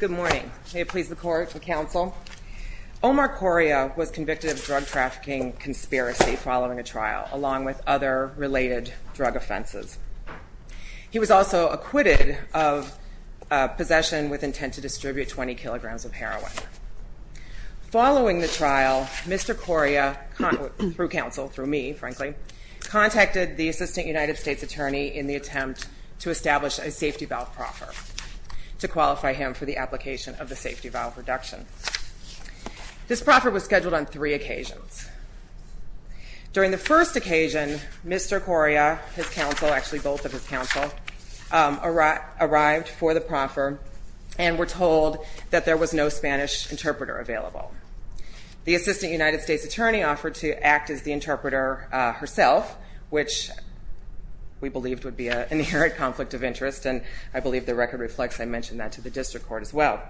Good morning, may it please the court and counsel. Omar Coria was convicted of drug trafficking conspiracy following a trial along with other related drug offenses. He was also acquitted of possession with intent to distribute 20 kilograms of heroin. Following the trial, Mr. Coria, through counsel, through me frankly, contacted the assistant United States attorney in the attempt to establish a safety valve proffer to qualify him for the application of the safety valve reduction. This proffer was scheduled on three occasions. During the first occasion, Mr. Coria, his counsel, actually both of his counsel, arrived for the proffer and were told that there was no Spanish interpreter available. The assistant United States attorney offered to act as the interpreter herself, which we believed would be an inherent conflict of interest, and I believe the record reflects I mentioned that to the district court as well.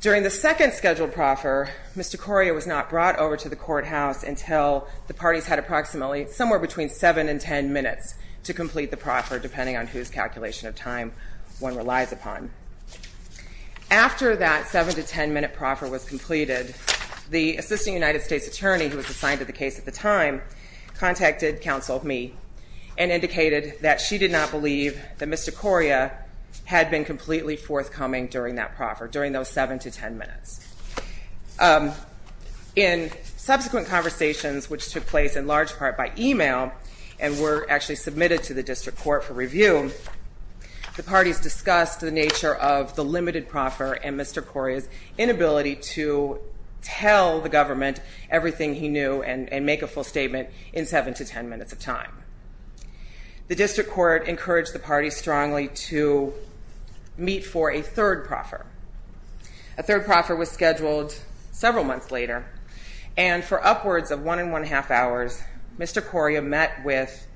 During the second scheduled proffer, Mr. Coria was not brought over to the courthouse until the parties had approximately somewhere between seven and ten minutes to complete the proffer, depending on whose calculation of time one relies upon. After that seven to ten minute proffer was completed, the assistant United States attorney, who was assigned to the case at the time, contacted counsel, me, and indicated that she did not believe that Mr. Coria had been completely forthcoming during that proffer, during those seven to ten minutes. In subsequent conversations, which took place in large part by email and were actually submitted to the district court for review, the parties discussed the nature of the limited proffer and Mr. Coria's inability to tell the government everything he knew and make a full statement in seven to ten minutes of time. The district court encouraged the parties strongly to meet for a third proffer. A third proffer was scheduled several months later, and for upwards of one and one-half hours, Mr. Coria met with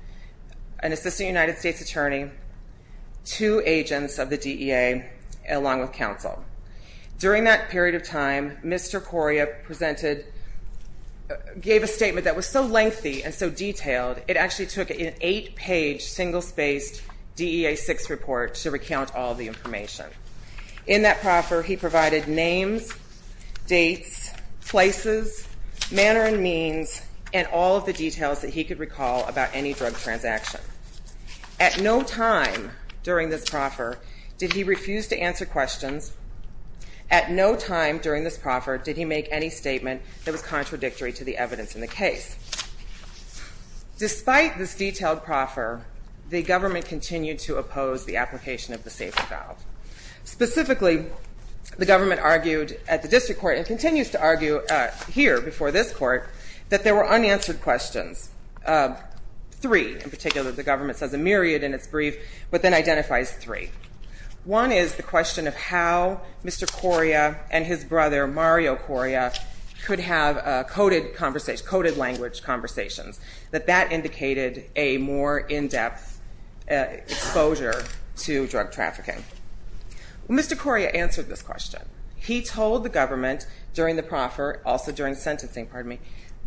an assistant United States attorney, two agents of the attorney, along with counsel. During that period of time, Mr. Coria presented, gave a statement that was so lengthy and so detailed, it actually took an eight-page, single-spaced, DEA-6 report to recount all the information. In that proffer, he provided names, dates, places, manner and means, and all of the details that he could recall about any drug transaction. At no time during this proffer did he refuse to answer questions. At no time during this proffer did he make any statement that was contradictory to the evidence in the case. Despite this detailed proffer, the government continued to oppose the application of the safety valve. Specifically, the government argued at the district court, and continues to argue here before this court, that there were unanswered questions. Three, in particular. The government says a myriad in its brief, but then identifies three. One is the question of how Mr. Coria and his brother, Mario Coria, could have coded language conversations, that that indicated a more in-depth exposure to drug trafficking. Mr. Coria answered this question. He told the government during the proffer, also during sentencing,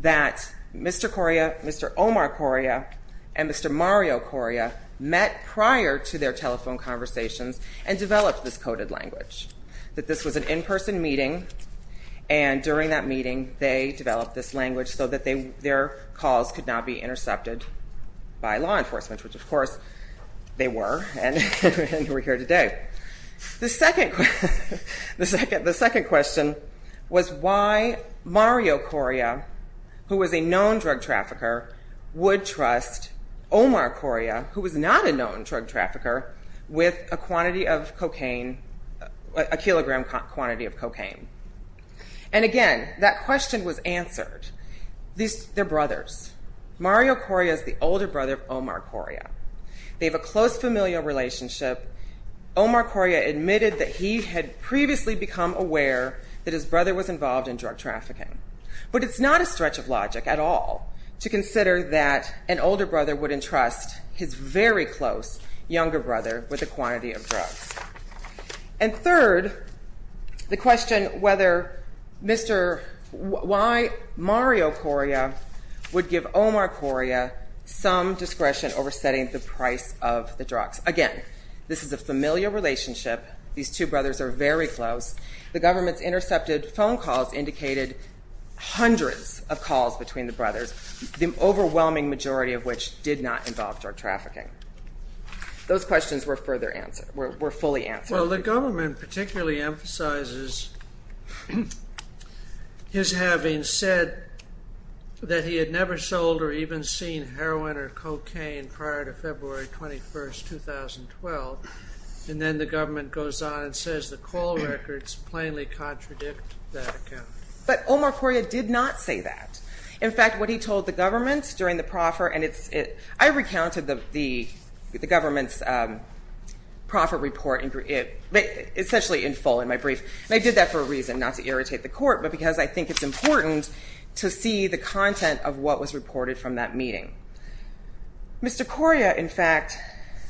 that Mr. Coria, Mr. Omar Coria, and Mr. Mario Coria met prior to their telephone conversations and developed this coded language. That this was an in-person meeting, and during that meeting, they developed this language so that their calls could not be intercepted by law enforcement, which of course, they were, and we're here today. The second question was why Mario Coria, who was a known drug trafficker, would trust Omar Coria, who was not a known drug trafficker, with a kilogram quantity of cocaine. And again, that question was answered. They're brothers. Mario Coria is the older brother of Omar Coria. They have a close familial relationship. Omar Coria admitted that he had previously become aware that his brother was involved in drug trafficking. But it's not a stretch of logic at all to consider that an older brother would entrust his very close younger brother with a quantity of drugs. And third, the question whether Mr. Why Mario Coria would give Omar Coria some discretion over setting the price of the drugs. Again, this is a familial relationship. These two brothers are very close. The government's intercepted phone calls indicated hundreds of calls between the brothers, the overwhelming majority of which did not involve drug trafficking. Those questions were further answered, were fully answered. Well, the government particularly emphasizes his having said that he had never sold or even seen heroin or cocaine prior to February 21st, 2012. And then the government goes on and says the call records plainly contradict that account. But Omar Coria did not say that. In fact, what he told the government during the proffer, and it's, I recounted the government's proffer report, essentially in full in my brief. And I did that for a reason, not to irritate the court, but because I think it's important to see the content of what was reported from that meeting. Mr. Coria, in fact,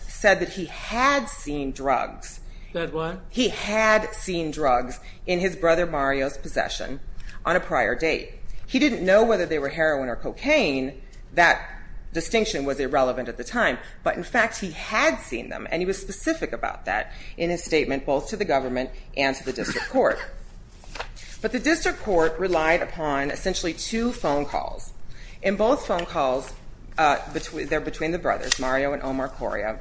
said that he had seen drugs. That what? He had seen drugs in his brother Mario's possession on a prior date. He didn't know whether they were heroin or cocaine. That distinction was irrelevant at the time. But in fact, he had seen them and he was specific about that in his statement, both to the government and to the district court. But the district court relied upon essentially two phone calls. In both phone calls, they're between the brothers, Mario and Omar Coria.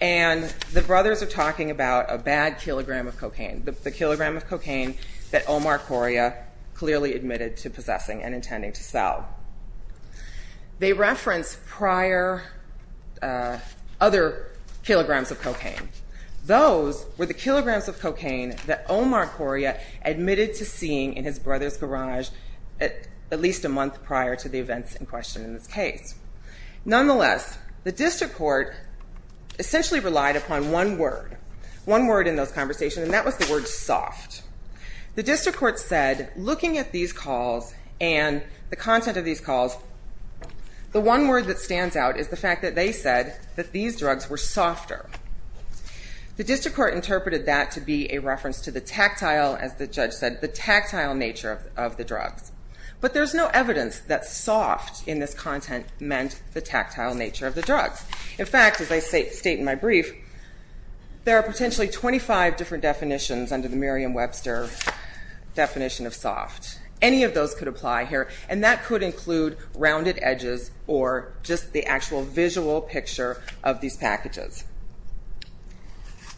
And the brothers are talking about a bad kilogram of cocaine, the kilogram of cocaine that Omar Coria clearly admitted to possessing and intending to sell. They reference prior, other kilograms of cocaine. Those were the kilograms of cocaine that Omar Coria admitted to seeing in his brother's garage at least a month prior to the events in question in this case. Nonetheless, the district court essentially relied upon one word, one word in those conversations, and that was the word soft. The district court said, looking at these calls and the content of these calls, the one word that stands out is the fact that they said that these drugs were softer. The district court interpreted that to be a reference to the tactile, as the judge said, the tactile nature of the drugs. But there's no evidence that soft in this content meant the tactile nature of the drugs. In fact, as I state in my brief, there are potentially 25 different definitions under the Merriam-Webster definition of soft. Any of those could apply here, and that could include rounded edges or just the actual visual picture of these packages.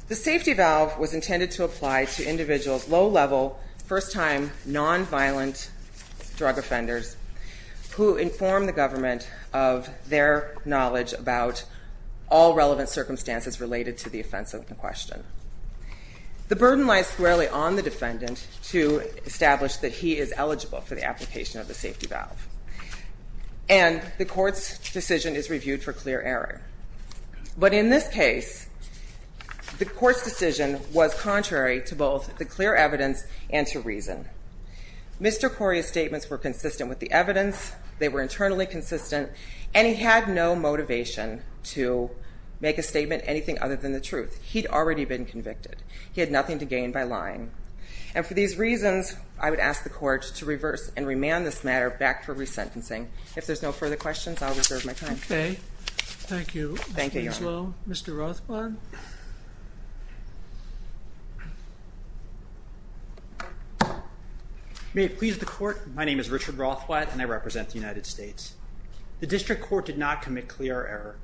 The safety valve was intended to apply to individuals, low-level, first-time, non-violent drug offenders, who inform the government of their knowledge about all relevant circumstances related to the offense in question. The burden lies squarely on the defendant to establish that he is eligible for the application of the safety valve. And the court's decision is reviewed for clear error. But in this case, the court's decision was contrary to both the clear evidence and to reason. Mr. Corey's statements were consistent with the evidence. They were internally consistent. And he had no motivation to make a statement anything other than the truth. He'd already been convicted. He had nothing to gain by lying. And for these reasons, I would ask the court to reverse and remand this matter back for resentencing. If there's no further questions, I'll reserve my time. Okay. Thank you. Thank you, Your Honor. Mr. Rothbard? May it please the court, my name is Richard Rothbard, and I represent the United States. The district court did not commit clear error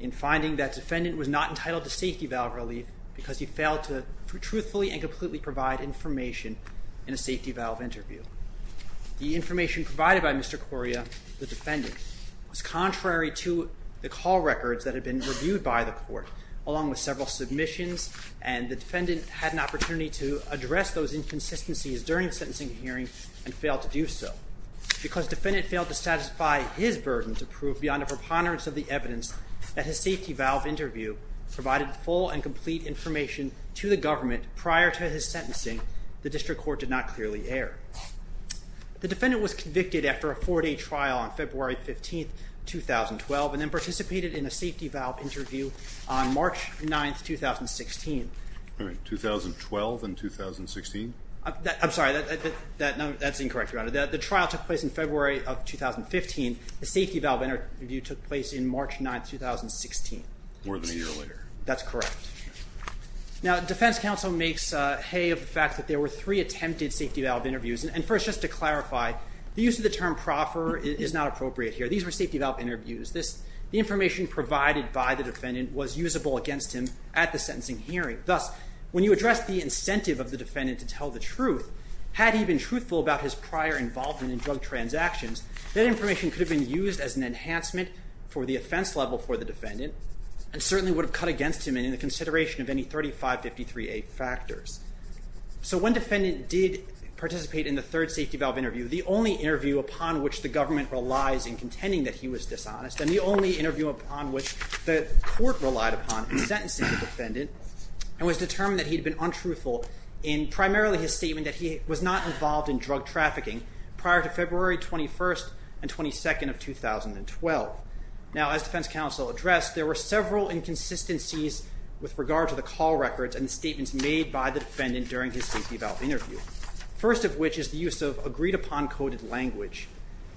in finding that defendant was not entitled to safety valve relief because he failed to truthfully and completely provide information in a safety valve interview. The information provided by Mr. Coria, the defendant, was contrary to the call records that had been reviewed by the court, along with several submissions. And the defendant had an opportunity to address those inconsistencies during the sentencing hearing and failed to do so. Because defendant failed to satisfy his burden to prove beyond a preponderance of the evidence that his safety valve interview provided full and complete information to the government prior to his sentencing, the district court did not clearly err. The defendant was convicted after a four-day trial on February 15, 2012, and then participated in a safety valve interview on March 9, 2016. All right. 2012 and 2016? I'm sorry, that's incorrect, Your Honor. The trial took place in February of 2015. The safety valve interview took place in March 9, 2016. More than a year later. That's correct. Now, defense counsel makes hay of the fact that there were three attempted safety valve interviews. And first, just to clarify, the use of the term proffer is not appropriate here. These were safety valve interviews. The information provided by the defendant was usable against him at the sentencing hearing. Thus, when you address the incentive of the defendant to tell the truth, had he been truthful about his prior involvement in drug transactions, that information could have been used as an enhancement for the offense level for the defendant and certainly would have cut against him in the consideration of any 3553A factors. So when defendant did participate in the third safety valve interview, the only interview upon which the government relies in contending that he was dishonest, and the only interview upon which the court relied upon in sentencing the defendant, it was determined that he had been untruthful in primarily his statement that he was not involved in drug trafficking prior to February 21st and 22nd of 2012. Now, as defense counsel addressed, there were several inconsistencies with regard to the call records and statements made by the defendant during his safety valve interview. First of which is the use of agreed upon coded language.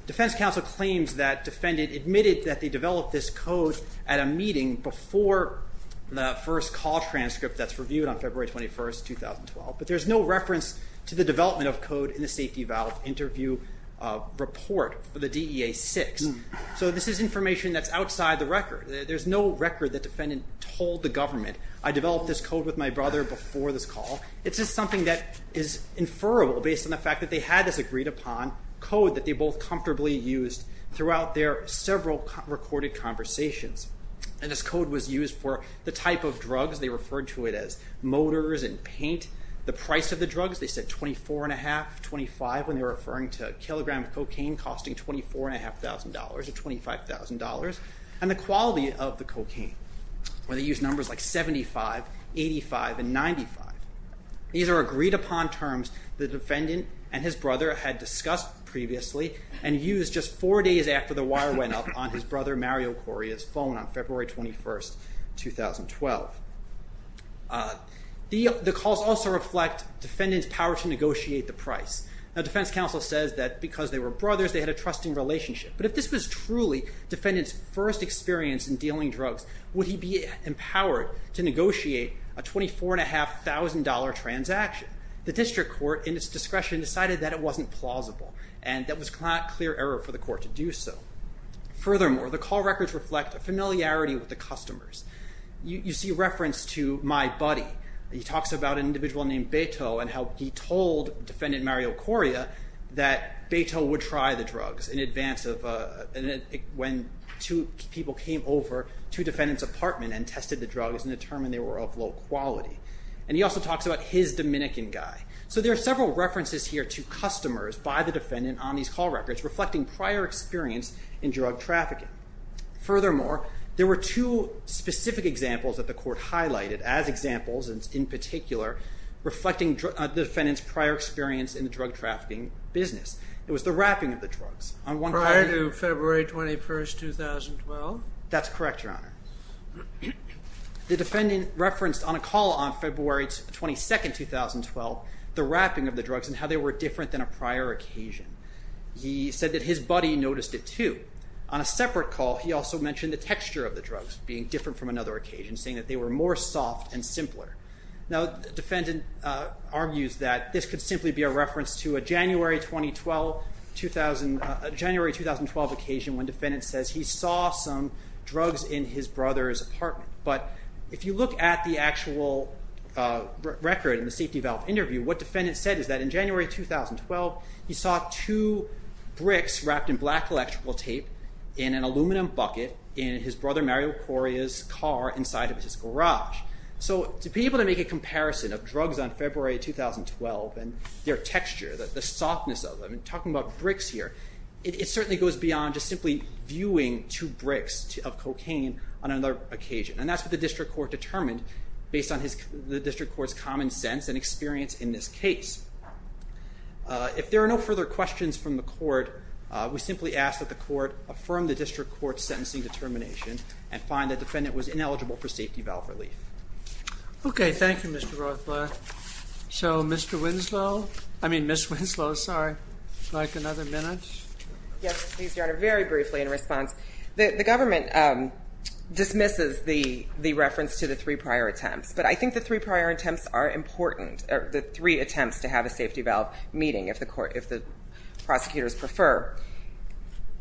Defense counsel claims that defendant admitted that they developed this code at a meeting before the first call transcript that's reviewed on February 21st, 2012. But there's no reference to the development of code in the safety valve interview report for the DEA-6. So this is information that's outside the record. There's no record that defendant told the government, I developed this code with my brother before this call. It's just something that is inferrable based on the fact that they had this agreed upon code that they both comfortably used throughout their several recorded conversations. And this code was used for the type of drugs. They referred to it as motors and paint. The price of the drugs, they said $24,500, $25,000 when they were referring to a kilogram of cocaine costing $24,500 or $25,000, and the quality of the cocaine. When they used numbers like 75, 85, and 95. These are agreed upon terms the defendant and his brother had discussed previously and used just four days after the wire went up on his brother Mario Correa's phone on February 21st, 2012. The calls also reflect defendant's power to negotiate the price. Now defense counsel says that because they were brothers, they had a trusting relationship. But if this was truly defendant's first experience in dealing drugs, would he be empowered to negotiate a $24,500 transaction? The district court in its discretion decided that it wasn't plausible and that was not clear error for the court to do so. Furthermore, the call records reflect a familiarity with the customers. You see reference to my buddy. He talks about an individual named Beto and how he told defendant Mario Correa that Beto would try the drugs in advance when two people came over to defendant's apartment and tested the drugs and determined they were of low quality. And he also talks about his Dominican guy. So there are several references here to customers by the defendant on these call records reflecting prior experience in drug trafficking. Furthermore, there were two specific examples that the court highlighted as examples in particular reflecting the defendant's prior experience in the drug trafficking business. It was the wrapping of the drugs. Prior to February 21, 2012? That's correct, your honor. The defendant referenced on a call on February 22, 2012, the wrapping of the drugs and how they were different than a prior occasion. He said that his buddy noticed it too. On a separate call, he also mentioned the texture of the drugs being different from another occasion, saying that they were more soft and simpler. Now, the defendant argues that this could simply be a reference to a January 2012 occasion when defendant says he saw some drugs in his brother's apartment. But if you look at the actual record in the safety valve interview, what defendant said is that in January 2012, he saw two bricks wrapped in black electrical tape in an aluminum bucket in his brother Mario Correa's car inside of his garage. So to be able to make a comparison of drugs on February 2012 and their texture, the softness of them, and talking about bricks here, it certainly goes beyond just simply viewing two bricks of cocaine on another occasion. And that's what the district court determined based on the district court's common sense and experience in this case. If there are no further questions from the court, we simply ask that the court affirm the district court's sentencing determination and find the defendant was ineligible for safety valve relief. OK, thank you, Mr. Rothblatt. So Mr. Winslow, I mean, Ms. Winslow, sorry, would you like another minute? Yes, please, Your Honor. Very briefly in response, the government dismisses the reference to the three prior attempts. But I think the three prior attempts are important, the three attempts to have a safety valve meeting, if the prosecutors prefer.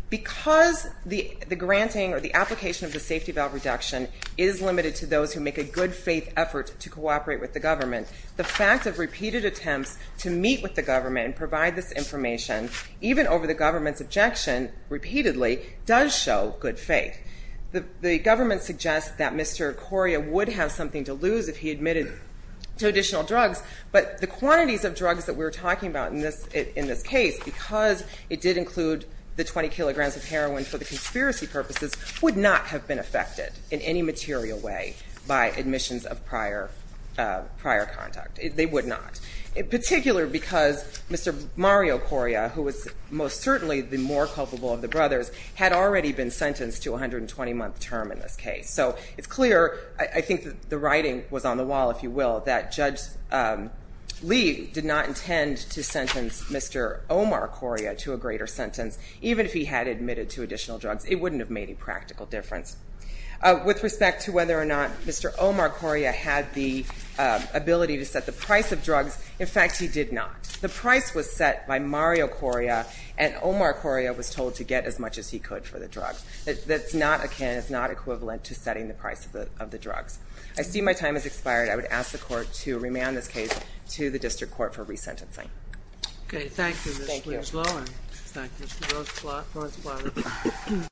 Because the granting or the application of the safety valve reduction is limited to those who make a good faith effort to cooperate with the government, the fact of repeated attempts to meet with the government and provide this information, even over the government's objection repeatedly, does show good faith. The government suggests that Mr. Coria would have something to lose if he admitted to additional drugs, but the quantities of drugs that we're talking about in this case, because it did include the 20 kilograms of heroin for the conspiracy purposes, would not have been affected in any material way by admissions of prior conduct. They would not. In particular, because Mr. Mario Coria, who was most certainly the more culpable of the brothers, had already been sentenced to a 120-month term in this case. So it's clear, I think the writing was on the wall, if you will, that Judge Lee did not intend to sentence Mr. Omar Coria to a greater sentence, even if he had admitted to additional drugs. It wouldn't have made a practical difference. With respect to whether or not Mr. Omar Coria had the ability to set the price of drugs, in fact, he did not. The price was set by Mario Coria, and Omar Coria was told to get as much as he could for the drugs. That's not akin, it's not equivalent to setting the price of the drugs. I see my time has expired. I would ask the Court to remand this case to the District Court for resentencing. Okay. Thank you, Ms. Loewen. Thank you, Ms. Loewen.